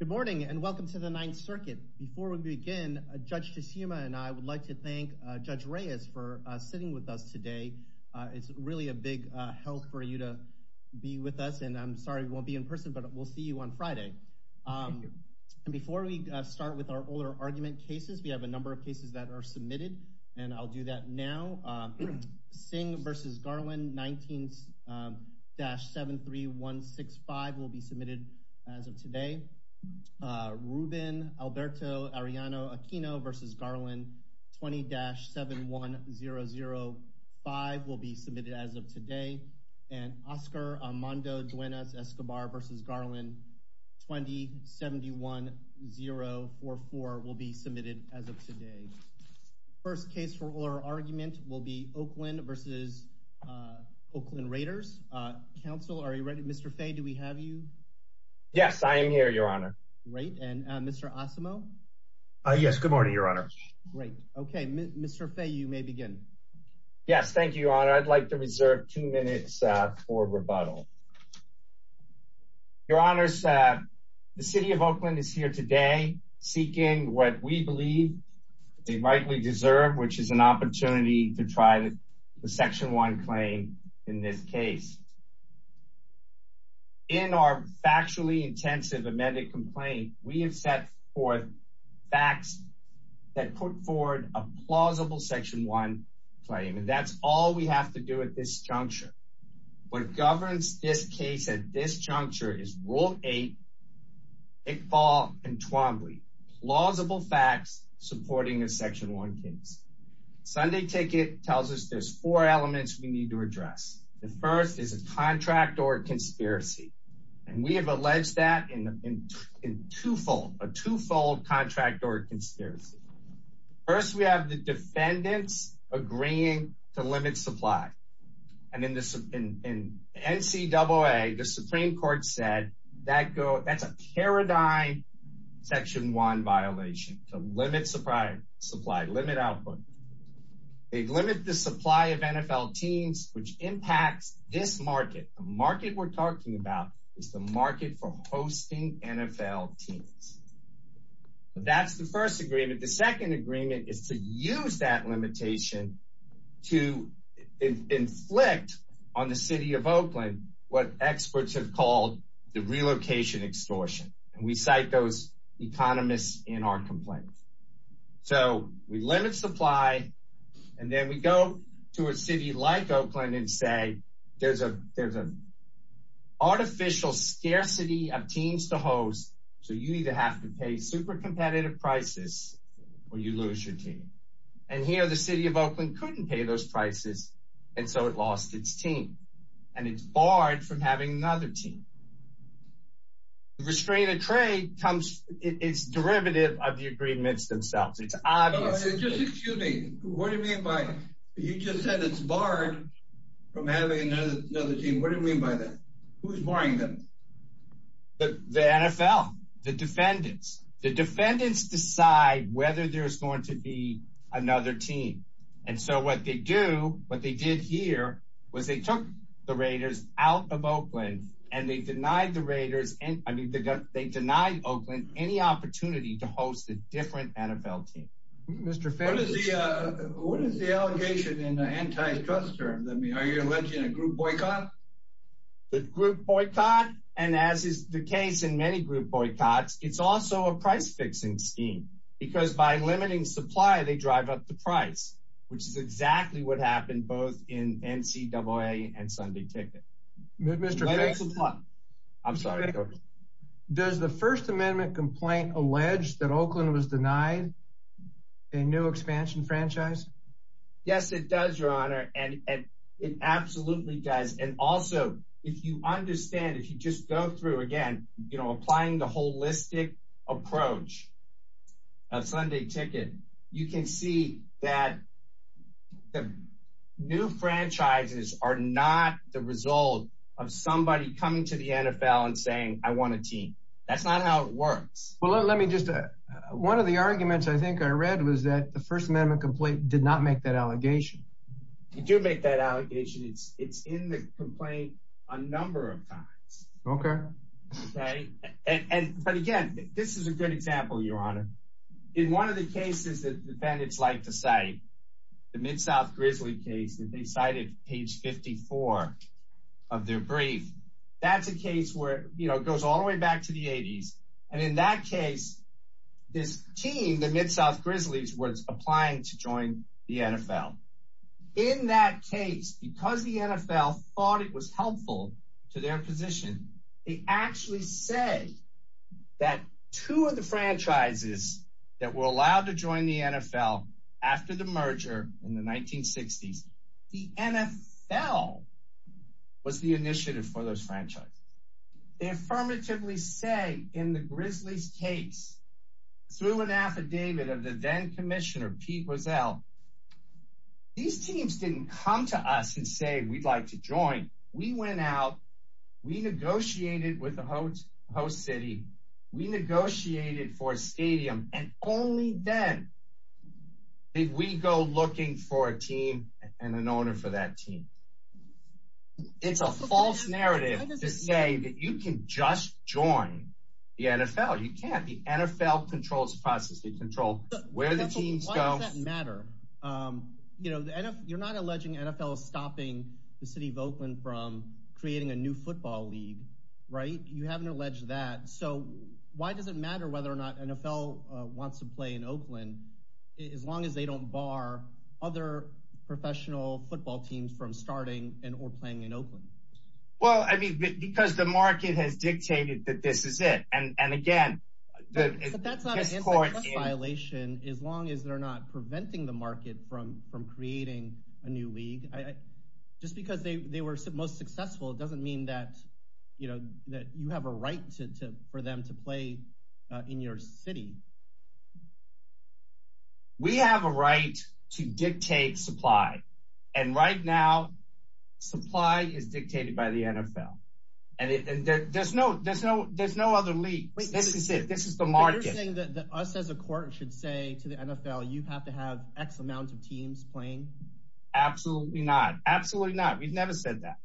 Good morning and welcome to the Ninth Circuit. Before we begin, Judge Tshisuma and I would like to thank Judge Reyes for sitting with us today. It's really a big help for you to be with us and I'm sorry we won't be in person but we'll see you on Friday. Before we start with our older argument cases, we have a number of cases that are submitted I'll do that now. Singh v. Garland 19-73165 will be submitted as of today. Ruben Alberto Arellano Aquino v. Garland 20-71005 will be submitted as of today. Oscar Armando Duenas Escobar v. Garland 20-71044 will be submitted as of today. First case for our argument will be Oakland v. Oakland Raiders. Counsel, are you ready? Mr. Fay, do we have you? Yes, I am here, your honor. Great, and Mr. Asamo? Yes, good morning, your honor. Great, okay. Mr. Fay, you may begin. Yes, thank you, your honor. I'd like to reserve two minutes for rebuttal. Your honor, the city of Oakland is here today seeking what we believe they rightly deserve, which is an opportunity to try the Section 1 claim in this case. In our factually intensive amended complaint, we have set forth facts that put forward a plausible Section 1 claim, and that's all we have to do at this juncture. What governs this case at this juncture is Rule 8, Iqbal and Twombly. Plausible facts supporting a Section 1 case. Sunday ticket tells us there's four elements we need to address. The first is a contract or conspiracy, and we have alleged that in twofold, a twofold contract or conspiracy. First, we have the defendants agreeing to limit supply, and in NCAA, the Supreme Court said that's a paradigm Section 1 violation, to limit supply, limit output. They limit the supply of NFL teams, which impacts this market. The market we're talking about is the market for hosting NFL teams. That's the first agreement. The second agreement is to use that limitation to inflict on the city of Oakland what experts have called the relocation extortion, and we cite economists in our complaint. We limit supply, and then we go to a city like Oakland and say, there's an artificial scarcity of teams to host, so you either have to pay super competitive prices, or you lose your team. Here, the city of Oakland couldn't pay those prices, and so it lost its team, and it's barred from having another team. The restraint of trade comes, it's derivative of the agreements themselves. It's obvious. No, just excuse me. What do you mean by, you just said it's barred from having another team. What do you mean by that? Who's barring them? The NFL, the defendants. The defendants decide whether there's going to be another team, and so what they do, what they did here, was they took the Raiders out of Oakland, and they denied the Raiders, I mean, they denied Oakland any opportunity to host a different NFL team. What is the allegation in the antitrust terms? Are you alleging a group boycott? The group boycott, and as is the case in many group boycotts, it's also a price-fixing scheme, because by limiting supply, they drive up the price, which is exactly what happened both in NCAA and Sunday Ticket. Does the First Amendment complaint allege that Oakland was denied a new expansion franchise? Yes, it does, Your Honor, and it absolutely does, and also, if you understand, if you just go through, again, you know, applying the holistic approach of Sunday Ticket, you can see that the new franchises are not the result of somebody coming to the NFL and saying, I want a team. That's not how it works. Well, let me just, one of the arguments, I think, I read was that the First Amendment complaint did not make that allegation. It did make that allegation. It's in the complaint a number of times, okay? But again, this is a good example, Your Honor. In one of the cases that the defendants like to cite, the Mid-South Grizzlies case that they cited, page 54 of their brief, that's a case where, you know, it goes all the way back to the 80s, and in that case, this team, the Mid-South Grizzlies, was applying to join the NFL. In that case, because the NFL thought it was helpful to their position, they actually say that two of the franchises that were allowed to join the NFL after the merger in the 1960s, the NFL was the initiative for those franchises. They affirmatively say in the Grizzlies case, through an affidavit of the then Commissioner Pete Wiesel, these teams didn't come to us and say, we'd like to join. We went out, we negotiated with the host city, we negotiated for a stadium, and only then did we go looking for a team and an owner for that team. It's a false narrative to say that you can just join the NFL. You can't. The NFL controls the process. They control where the teams go. But why does that matter? You know, you're not alleging NFL is stopping the city of Oakland from creating a new football league, right? You haven't alleged that. So why does it matter whether or not professional football teams from starting and or playing in Oakland? Well, I mean, because the market has dictated that this is it. And again, that's not a violation, as long as they're not preventing the market from from creating a new league. Just because they were most successful, it doesn't mean that, you know, that you have a right to for them to play in your city. We have a right to dictate supply. And right now, supply is dictated by the NFL. And there's no there's no there's no other league. This is it. This is the market. You're saying that us as a court should say to the NFL, you have to have X amount of teams playing? Absolutely not. Absolutely not. We've never said that.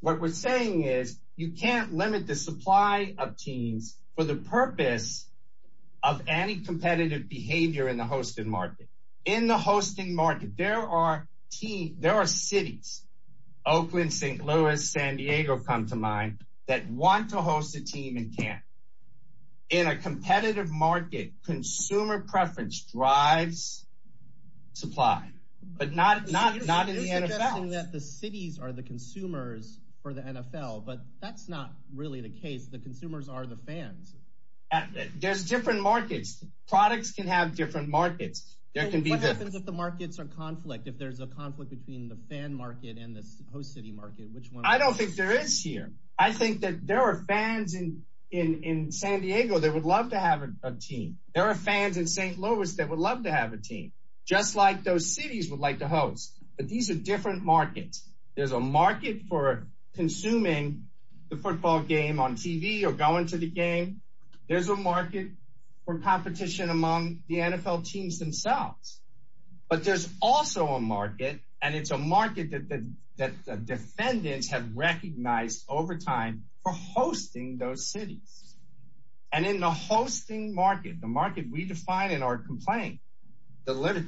What we're saying is, you can't limit the supply of teams for the purpose of any competitive behavior in the hosting market. In the hosting market, there are teams, there are cities, Oakland, St. Louis, San Diego come to mind that want to host a team and can't. In a competitive market, consumer preference drives supply, but not not not in the NFL. That the cities are the consumers for the NFL, but that's not really the case. The consumers are the fans. There's different markets. Products can have different markets. There can be the markets are conflict. If there's a conflict between the fan market and the host city market, which one? I don't think there is here. I think that there are fans in San Diego that would love to have a team. There are fans in St. Louis that would love to have a team, just like those cities would like to host. But these are different markets. There's a market for consuming the football game on TV or going to the game. There's a market for competition among the NFL teams themselves. But there's also a market, and it's a market that the defendants have recognized over time for hosting those cities. And in the hosting market, the market we define in our complaint, the limit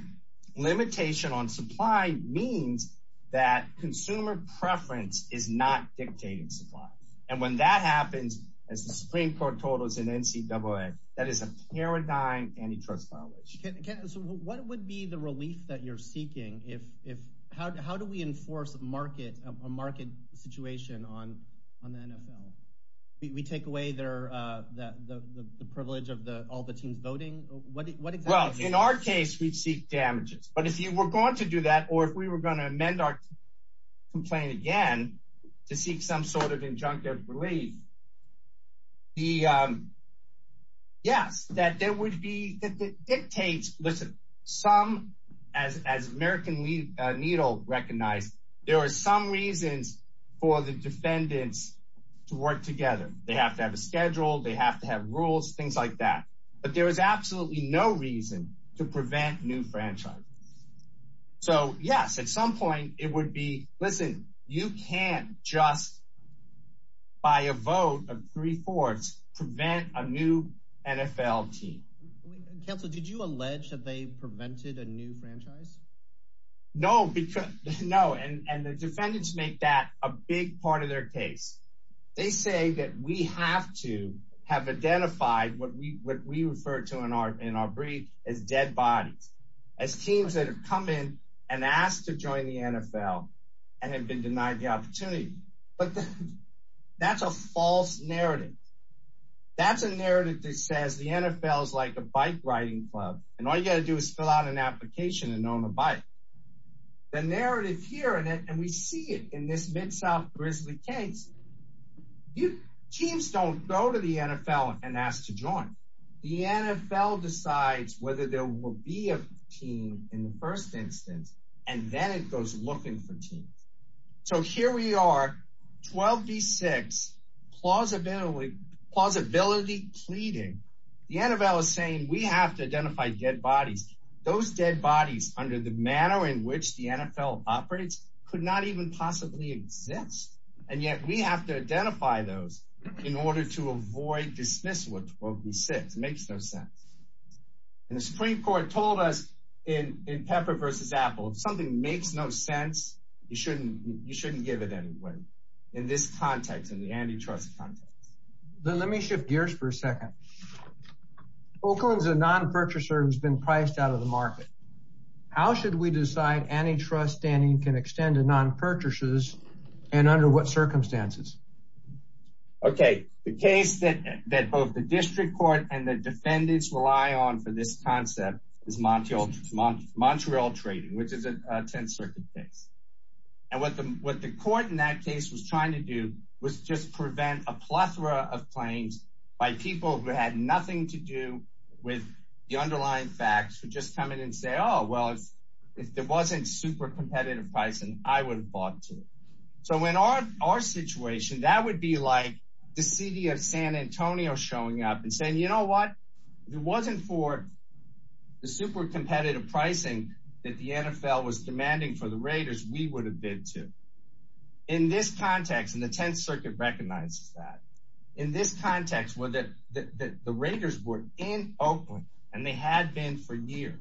limitation on supply means that consumer preference is not dictating supply. And when that happens, as the Supreme Court told us in NCAA, that is a paradigm antitrust violation. What would be the relief that you're seeking? If if how do we enforce a market, a market situation on on the NFL? We take away their that the privilege of the all the teams voting. Well, in our case, we'd seek damages. But if you were going to do that or if we were going to amend our complaint again to seek some sort of injunctive relief. Yes, that there would be dictates. Listen, some as as American Needle recognized, there are some reasons for the defendants to work together. They have to have a schedule. They have to have rules, things like that. But there is absolutely no reason to prevent new franchise. So yes, at some point, it would be listen, you can't just by a vote of three fourths prevent a new NFL team. Counsel, did you allege that they prevented a new franchise? No, because no, and the defendants make that a big part of their case. They say that we have to have identified what we what we refer to in our in our brief as dead bodies, as teams that have come in and asked to join the NFL and have been denied the opportunity. But that's a false narrative. That's a narrative that says the NFL is like a bike riding club. And all you got to do is fill out an application and own a bike. The narrative here and we see it in this Mid-South Grizzly case. You teams don't go to the NFL and ask to join the NFL decides whether there will be a team in the first instance, and then it goes looking for teams. So here we are 12 v six plausibility, plausibility pleading, the NFL is saying we have to identify dead bodies, those dead bodies under the manner in which the NFL operates could not even possibly exist. And yet we have to identify those in order to avoid dismissal at 12 v six makes no sense. And the Supreme Court told us in in pepper versus apple, if something makes no sense, you shouldn't you shouldn't give it anyway. In this context, in the antitrust context, then let me shift gears for a second. Oakland is a non purchaser who's been priced out of the circumstances. Okay, the case that that both the district court and the defendants rely on for this concept is Montreal, Montreal trading, which is a 10th Circuit case. And what the what the court in that case was trying to do was just prevent a plethora of claims by people who had nothing to do with the underlying facts for just come in and say, Oh, well, if there wasn't super competitive pricing, I would have bought too. So when our our situation that would be like the city of San Antonio showing up and saying, you know what, it wasn't for the super competitive pricing that the NFL was demanding for the Raiders, we would have been to in this context, and the 10th Circuit recognizes that, in this context, were that the Raiders were in Oakland, and they had been for years,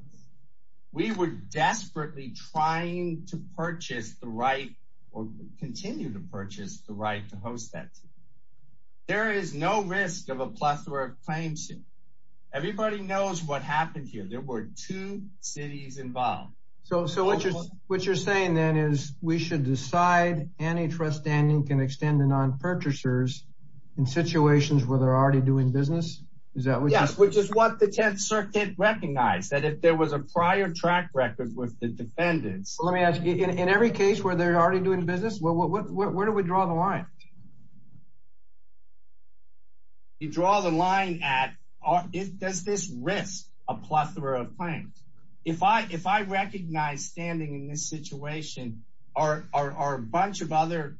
we were desperately trying to purchase the right or continue to purchase the right to host that. There is no risk of a plethora of claims. Everybody knows what happened here. There were two cities involved. So so what you're what you're saying, then is we should decide antitrust and you can extend the non purchasers in situations where they're already doing business? Is that what yes, which is what the 10th Circuit recognized that if there was a prior track record with the defendants, let me ask you in every case where they're already doing business. Well, what where do we draw the line? You draw the line at our it does this risk a plethora of claims? If I if I recognize standing in this situation, are a bunch of other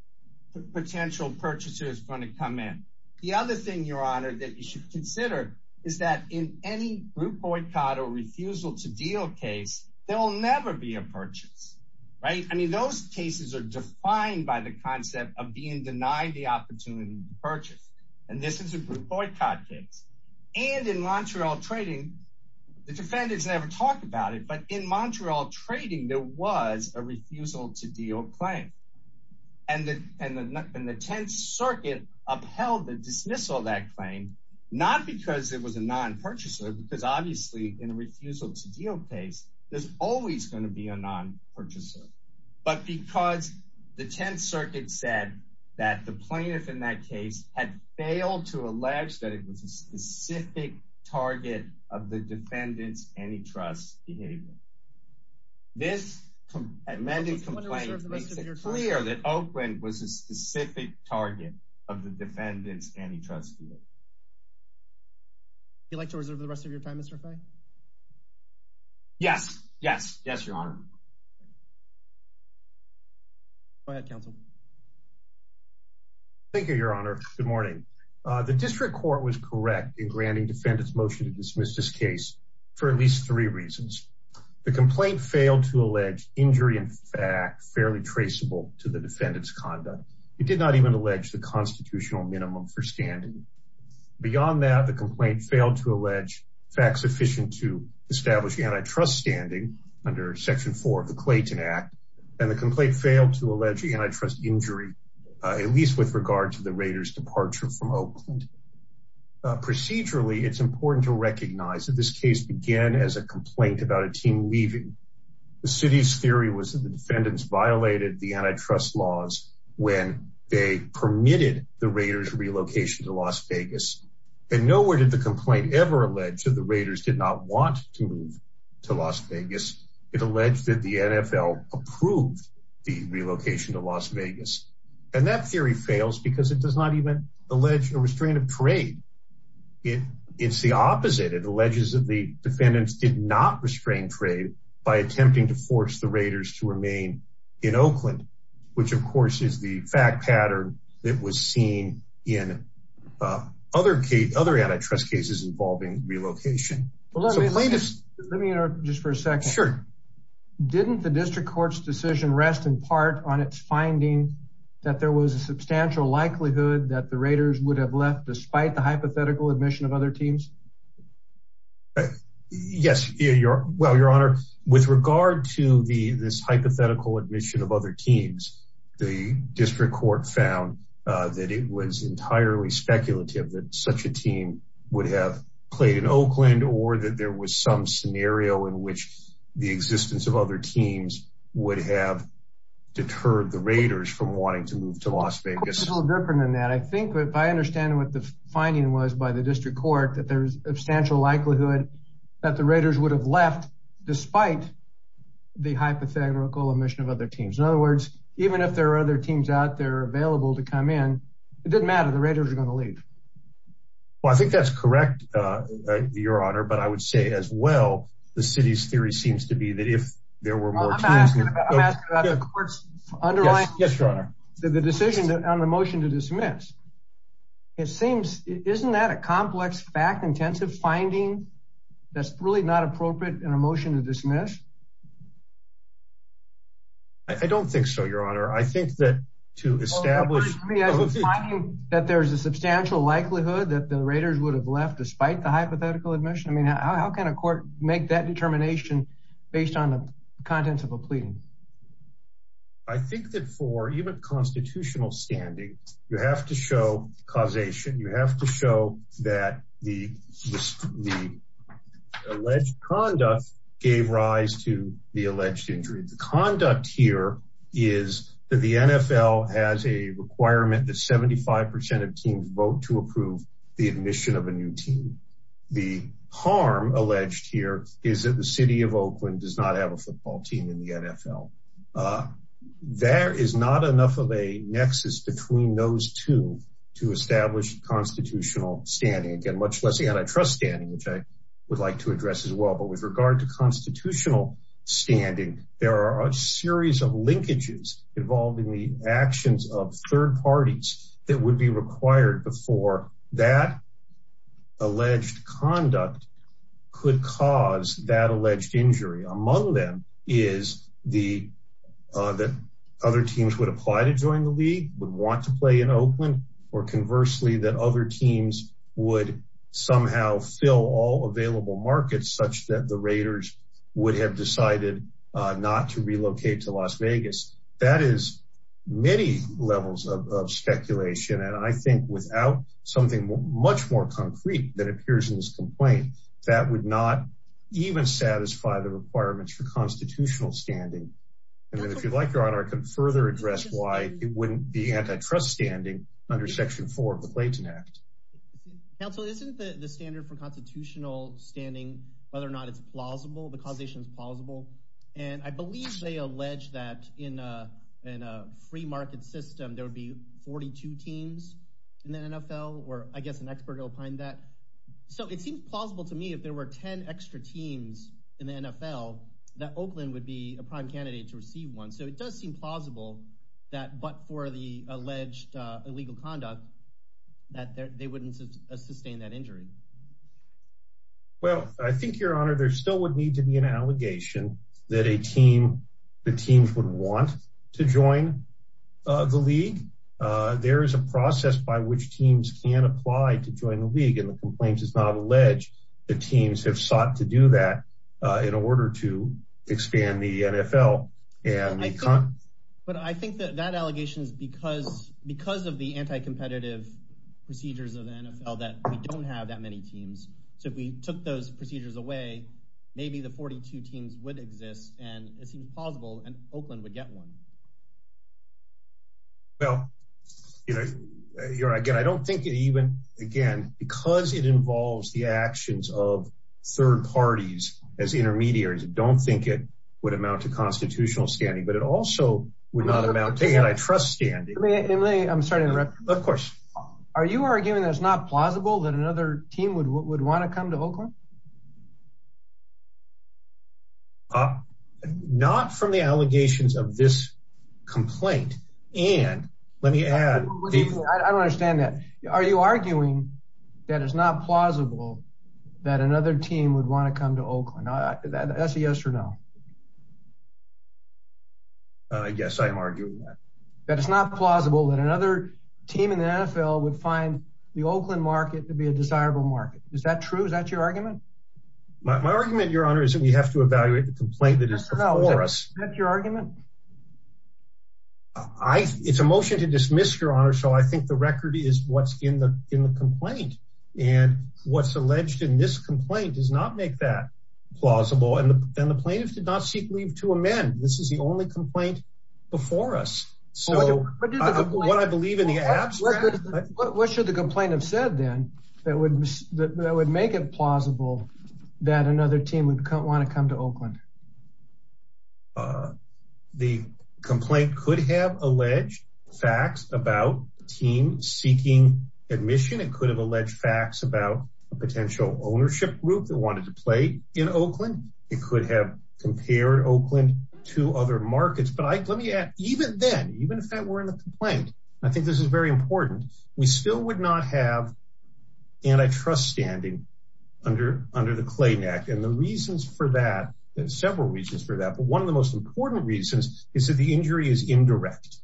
potential purchasers going to come in? The other thing your honor that you should consider is that in any group boycott or refusal to deal case, there will never be a purchase. Right? I mean, those cases are defined by the concept of being denied the opportunity to purchase. And this is a group boycott case. And in Montreal trading, the defendants never talked about it. But in Montreal trading, there was a refusal to deal claim. And the and the 10th Circuit upheld the dismissal that claim, not because it was a non purchaser, because obviously, in a refusal to deal case, there's always going to be a non purchaser. But because the 10th Circuit said that the plaintiff in that case had failed to allege that it was a specific target of the defendants antitrust behavior. This amended complaint clear that Oakland was a specific target of the defendants antitrust. You'd like to reserve the rest of your time, Mr. Frank? Yes, yes, yes, your honor. Go ahead, counsel. Thank you, your honor. Good morning. The district court was correct in granting defendants motion to dismiss this case for at least three reasons. The complaint failed to allege injury in fact, fairly traceable to the defendants conduct. It did not even allege the constitutional minimum for standing. Beyond that, the complaint failed to allege facts sufficient to establish antitrust standing under section four of the Clayton Act. And the complaint failed to allege antitrust injury, at least with regard to the Raiders departure from Oakland. Procedurally, it's important to recognize that this case began as a complaint about a team leaving. The city's theory was that the defendants violated the antitrust laws when they permitted the Raiders relocation to Las Vegas. And nowhere did the complaint ever alleged that the Raiders did not want to move to Las Vegas. It alleged that the NFL approved the relocation to Las Vegas. And that theory fails because it does not even allege or restrain a parade. It's the opposite. It alleges that the defendants did not restrain trade by attempting to force the Raiders to remain in Oakland, which of course is the fact pattern that was seen in other antitrust cases involving relocation. Let me interrupt just for a second. Sure. Didn't the district court's decision rest in part on its finding that there was a substantial likelihood that the Raiders would have left despite the hypothetical admission of other teams? Yes. Well, Your Honor, with regard to this hypothetical admission of other teams, the district court found that it was entirely speculative that such a team would have played in Oakland or that there was some scenario in which the existence of other teams would have deterred the Raiders from wanting to move to Las Vegas. It's a little different than that. I think if I understand what the finding was by the district court, that there's a substantial likelihood that the Raiders would have left despite the hypothetical admission of other teams. In other words, even if there are other teams out there available to come in, it doesn't matter. The Raiders are going to leave. Well, I think that's correct, Your Honor, but I would say as well, the city's theory seems to be that if there were more teams... I'm asking about the court's underlying... Yes, Your Honor. The decision on the motion to dismiss. Isn't that a complex fact-intensive finding that's really not appropriate in a district court? That there's a substantial likelihood that the Raiders would have left despite the hypothetical admission? I mean, how can a court make that determination based on the contents of a pleading? I think that for even constitutional standing, you have to show causation. You have to show that the alleged conduct gave rise to alleged injury. The conduct here is that the NFL has a requirement that 75% of teams vote to approve the admission of a new team. The harm alleged here is that the city of Oakland does not have a football team in the NFL. There is not enough of a nexus between those two to establish constitutional standing, again, much less the antitrust standing, which I would like to address as well. But with regard to constitutional standing, there are a series of linkages involving the actions of third parties that would be required before that alleged conduct could cause that alleged injury. Among them is that other teams would apply to join the league, would want to play in Oakland, or conversely, that other teams would somehow fill all available markets such that the Raiders would have decided not to relocate to Las Vegas. That is many levels of speculation, and I think without something much more concrete that appears in this complaint, that would not even satisfy the requirements for constitutional standing. And if you'd like, Your Honor, I can further address why it wouldn't be antitrust standing, under Section 4 of the Clayton Act. Counsel, isn't the standard for constitutional standing, whether or not it's plausible, the causation is plausible? And I believe they allege that in a free market system, there would be 42 teams in the NFL, or I guess an expert will find that. So it seems plausible to me if there were 10 extra teams in the NFL, that Oakland would be a prime candidate to receive one. So it does seem plausible that but for the alleged illegal conduct, that they wouldn't sustain that injury. Well, I think, Your Honor, there still would need to be an allegation that a team, the teams would want to join the league. There is a process by which teams can apply to join the league, and the complaint is not alleged. The teams have sought to do that in order to expand the NFL. Yeah. But I think that that allegation is because of the anti-competitive procedures of the NFL that we don't have that many teams. So if we took those procedures away, maybe the 42 teams would exist, and it seems plausible, and Oakland would get one. Well, Your Honor, again, I don't think even, again, because it involves the actions of standing, but it also would not amount to antitrust standing. I'm sorry to interrupt. Of course. Are you arguing that it's not plausible that another team would want to come to Oakland? Not from the allegations of this complaint. And let me add... I don't understand that. Are you arguing that it's not plausible that another team would want to come to Oakland? That's a yes or no. Yes, I'm arguing that. That it's not plausible that another team in the NFL would find the Oakland market to be a desirable market. Is that true? Is that your argument? My argument, Your Honor, is that we have to evaluate the complaint that is before us. Is that your argument? It's a motion to dismiss, Your Honor, so I think the record is what's in the complaint. And what's alleged in this complaint does not make that plausible. And the plaintiffs did not seek leave to amend. This is the only complaint before us. So what I believe in the abstract... What should the complaint have said, then, that would make it plausible that another team would want to come to Oakland? The complaint could have alleged facts about a team seeking admission. It could have alleged facts about a potential ownership group that wanted to play in Oakland. It could have compared Oakland to other markets. But let me add, even then, even if that were in the complaint, I think this is very important, we still would not have antitrust standing under the Clayton Act. And there are several reasons for that. But one of the most important reasons is that the injury is indirect.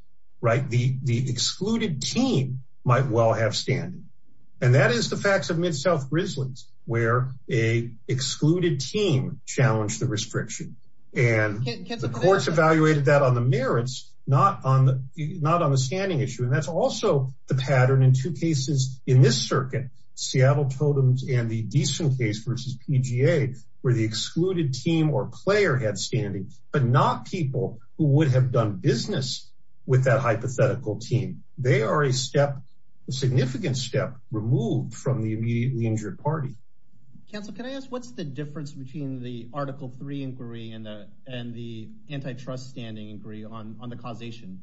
The excluded team might well have standing. And that is the facts of Mid-South Grizzlies, where a excluded team challenged the restriction. And the courts evaluated that on the merits, not on the standing issue. And that's also the pattern in two cases in this circuit, Seattle Totems and the Decent case versus PGA, where the excluded team or player had standing, but not people who would have done business with that hypothetical team. They are a step, a significant step, removed from the immediately injured party. Counsel, can I ask, what's the difference between the Article 3 inquiry and the antitrust standing inquiry on the causation?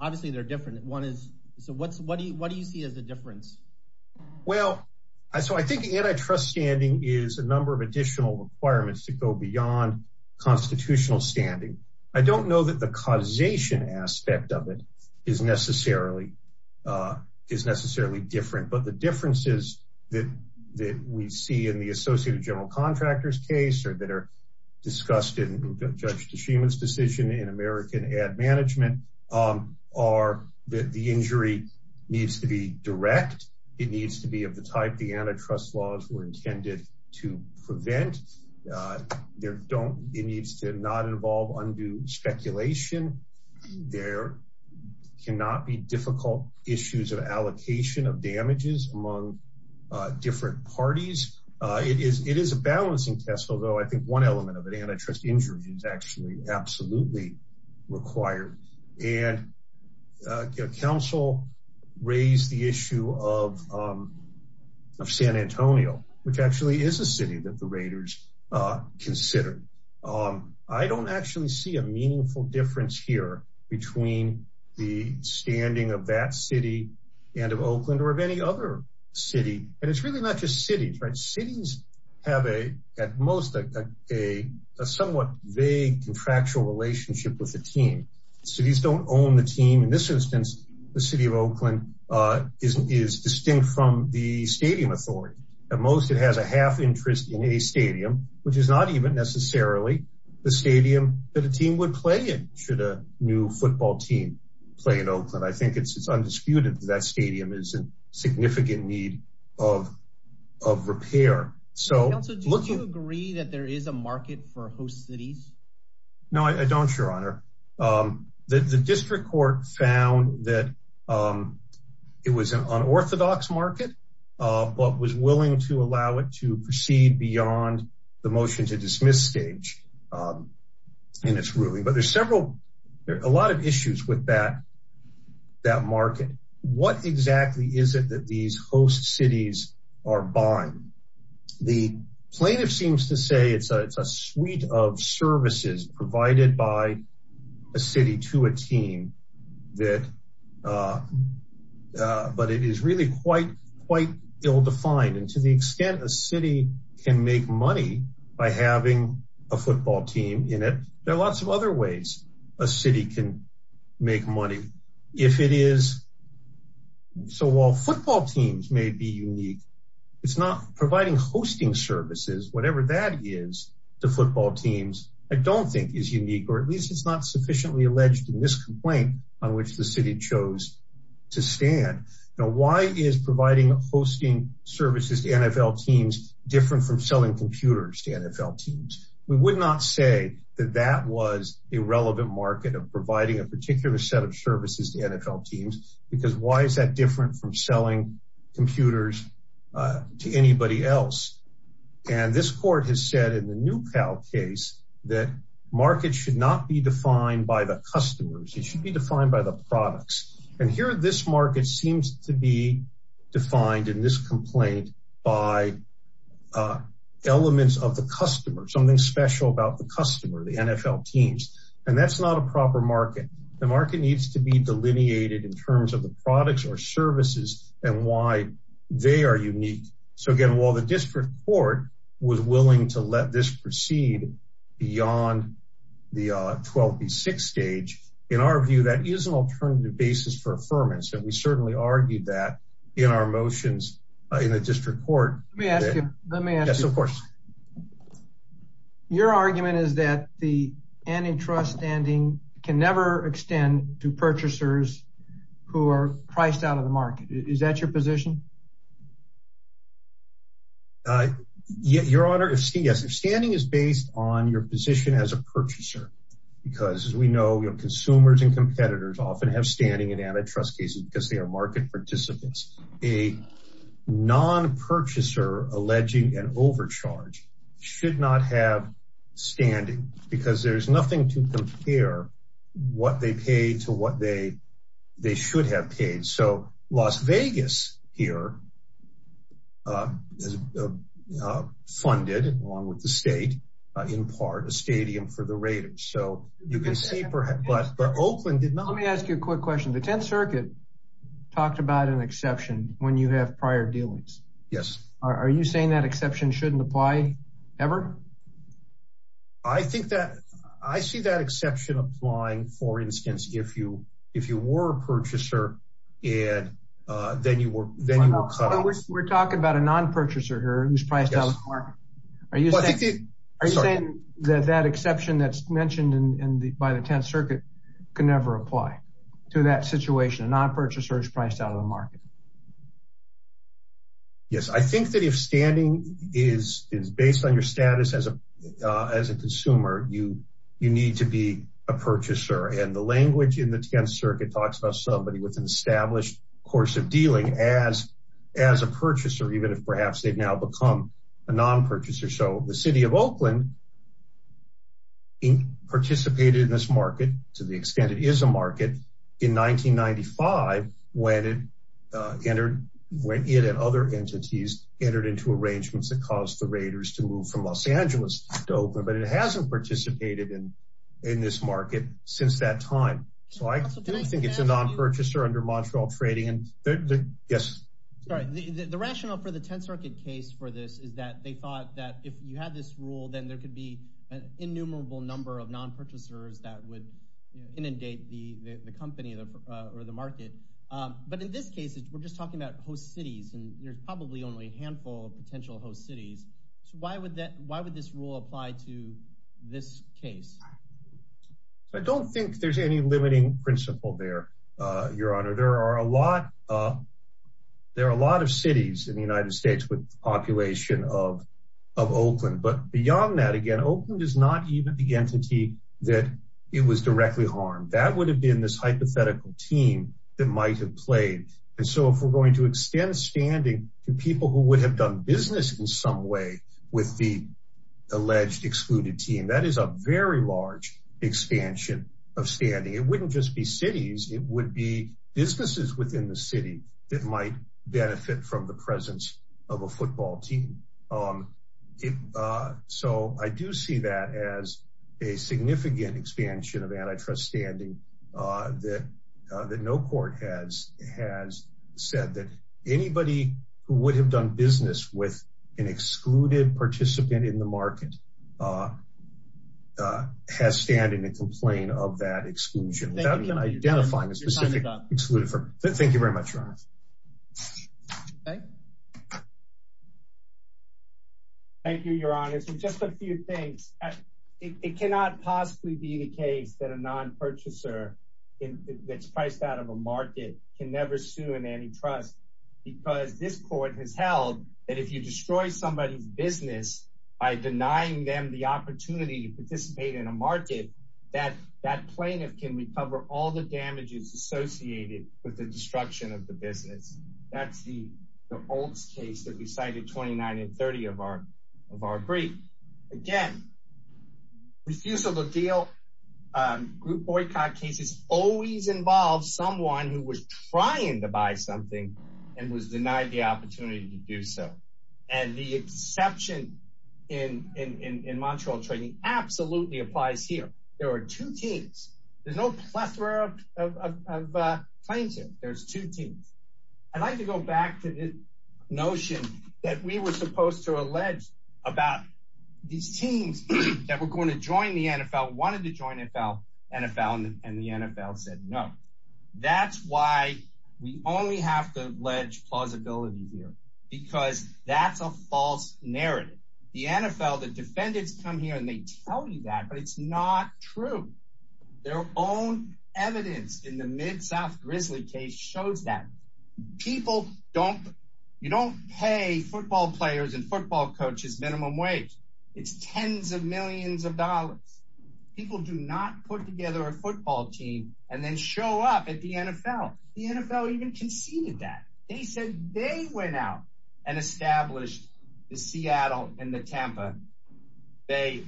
Obviously, they're different. One is, so what do you see as the difference? Well, so I think antitrust standing is a number of additional requirements to go beyond constitutional standing. I don't know that the causation aspect of it is necessarily different. But the differences that we see in the Associated General Contractors case, or that are discussed in Judge Tshima's decision in American Ad Management, are that the injury needs to be direct. It needs to be of the type the antitrust laws were intended to prevent. There don't, it needs to not involve undue speculation. There cannot be difficult issues of allocation of damages among different parties. It is a balancing test, although I think one element of it, antitrust injuries, is actually absolutely required. And counsel raised the issue of San Antonio, which actually is a city that the Raiders consider. I don't actually see a meaningful difference here between the standing of that city and of Oakland or of any other city. And it's really not just cities, right? Cities have a, at most, a somewhat vague contractual distinction from the stadium authority. At most, it has a half interest in a stadium, which is not even necessarily the stadium that a team would play in, should a new football team play in Oakland. I think it's undisputed that that stadium is in significant need of repair. So, counsel, do you agree that there is a market for host cities? No, I don't, your honor. The district court found that it was an unorthodox market, but was willing to allow it to proceed beyond the motion to dismiss stage in its ruling. But there's several, there are a lot of issues with that market. What exactly is it that these host provided by a city to a team that, but it is really quite, quite ill-defined. And to the extent a city can make money by having a football team in it, there are lots of other ways a city can make money. If it is, so while football teams may be unique, it's not providing hosting services, whatever that is, to football teams, I don't think is unique, or at least it's not sufficiently alleged in this complaint on which the city chose to stand. Now, why is providing hosting services to NFL teams different from selling computers to NFL teams? We would not say that that was a relevant market of providing a particular set of services to NFL teams, because why is that said in the new cow case, that markets should not be defined by the customers, it should be defined by the products. And here, this market seems to be defined in this complaint by elements of the customer, something special about the customer, the NFL teams, and that's not a proper market. The market needs to be delineated in terms of the products or to let this proceed beyond the 12th and 6th stage. In our view, that is an alternative basis for affirmance. And we certainly argued that in our motions in the district court. Your argument is that the antitrust standing can never extend to purchasers who are priced out of the market. Is that your position? I get your honor to see yes, your standing is based on your position as a purchaser. Because as we know, your consumers and competitors often have standing in antitrust cases because they are market participants, a non purchaser alleging an overcharge should not have standing because there's nothing to compare what they pay to what they they should have paid. So Las Vegas here funded along with the state, in part a stadium for the Raiders. So you can see perhaps, but Oakland did not. Let me ask you a quick question. The 10th Circuit talked about an exception when you have prior dealings. Yes. Are you saying that exception shouldn't apply? Ever? I think that I see that exception applying for instance, if you if you were a purchaser, and then you were then we're talking about a non purchaser who's priced out of the market. Are you saying that that exception that's mentioned in the by the 10th Circuit can never apply to that situation? A non purchaser is priced out of the market? Yes, I think that if standing is is based on your status as a as a consumer, you, you need to be a purchaser and the language in the 10th Circuit talks about somebody with an established course of dealing as as a purchaser, even if perhaps they've now become a non purchaser. So the city of Oakland participated in this market to the extent it is a market in 1995, when it entered when it and other entities entered into arrangements that caused the Raiders to move from Los Angeles to Oakland, but it hasn't participated in in this market since that time. So I think it's a non purchaser under Montreal trading and the Yes, right. The rationale for the 10th Circuit case for this is that they thought that if you had this rule, then there could be an innumerable number of non purchasers that would inundate the company or the market. But in this case, we're just talking about host cities, and there's probably only a handful of potential host cities. So why would that why would this rule apply to this case? I don't think there's any limiting principle there. Your Honor, there are a lot. There are a lot of cities in the United States with population of, of Oakland. But beyond that, again, Oakland is not even the entity that it was directly harmed. That would have been this If we're going to extend standing to people who would have done business in some way with the alleged excluded team, that is a very large expansion of standing, it wouldn't just be cities, it would be businesses within the city that might benefit from the presence of a football team. So I do see that as a significant expansion of antitrust standing that that no court has has said that anybody who would have done business with an excluded participant in the market has standing a complaint of that exclusion. Thank you very much. Thank you, Your Honor. So just a few things. It cannot possibly be the case that a non purchaser that's priced out of a market can never sue an antitrust. Because this court has held that if you destroy somebody's business, by denying them the opportunity to participate in a market, that that plaintiff can recover all the damages associated with the destruction of the business. That's the old case that we cited 29 and 30 of our of our brief. Again, refusal to deal group boycott cases always involves someone who was trying to buy something and was denied the opportunity to do so. And the exception in in Montreal training absolutely applies here. There are two teams, there's no plethora of plaintiff, there's two teams. I'd like to go back to this notion that we were supposed to allege about these teams that were going to join the NFL wanted to join NFL, NFL and the NFL said no. That's why we only have to ledge plausibility here. Because that's a false narrative. The NFL the defendants come here and they tell you that but it's not true. Their own evidence in the mid south grizzly case shows that people don't you don't pay football players and football coaches minimum wage. It's 10s of millions of dollars. People do not put together a football team and then show up at the NFL. The NFL even conceded that they said they went out and established the Seattle and the Tampa Bay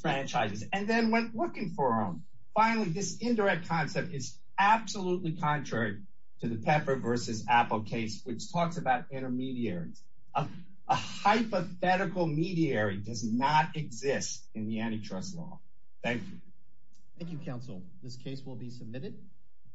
franchises and then went looking for them. Finally, this indirect concept is absolutely contrary to the pepper versus apple case which talks about intermediaries. A hypothetical mediary does not exist in the antitrust law. Thank you. Thank you counsel. This case will be submitted.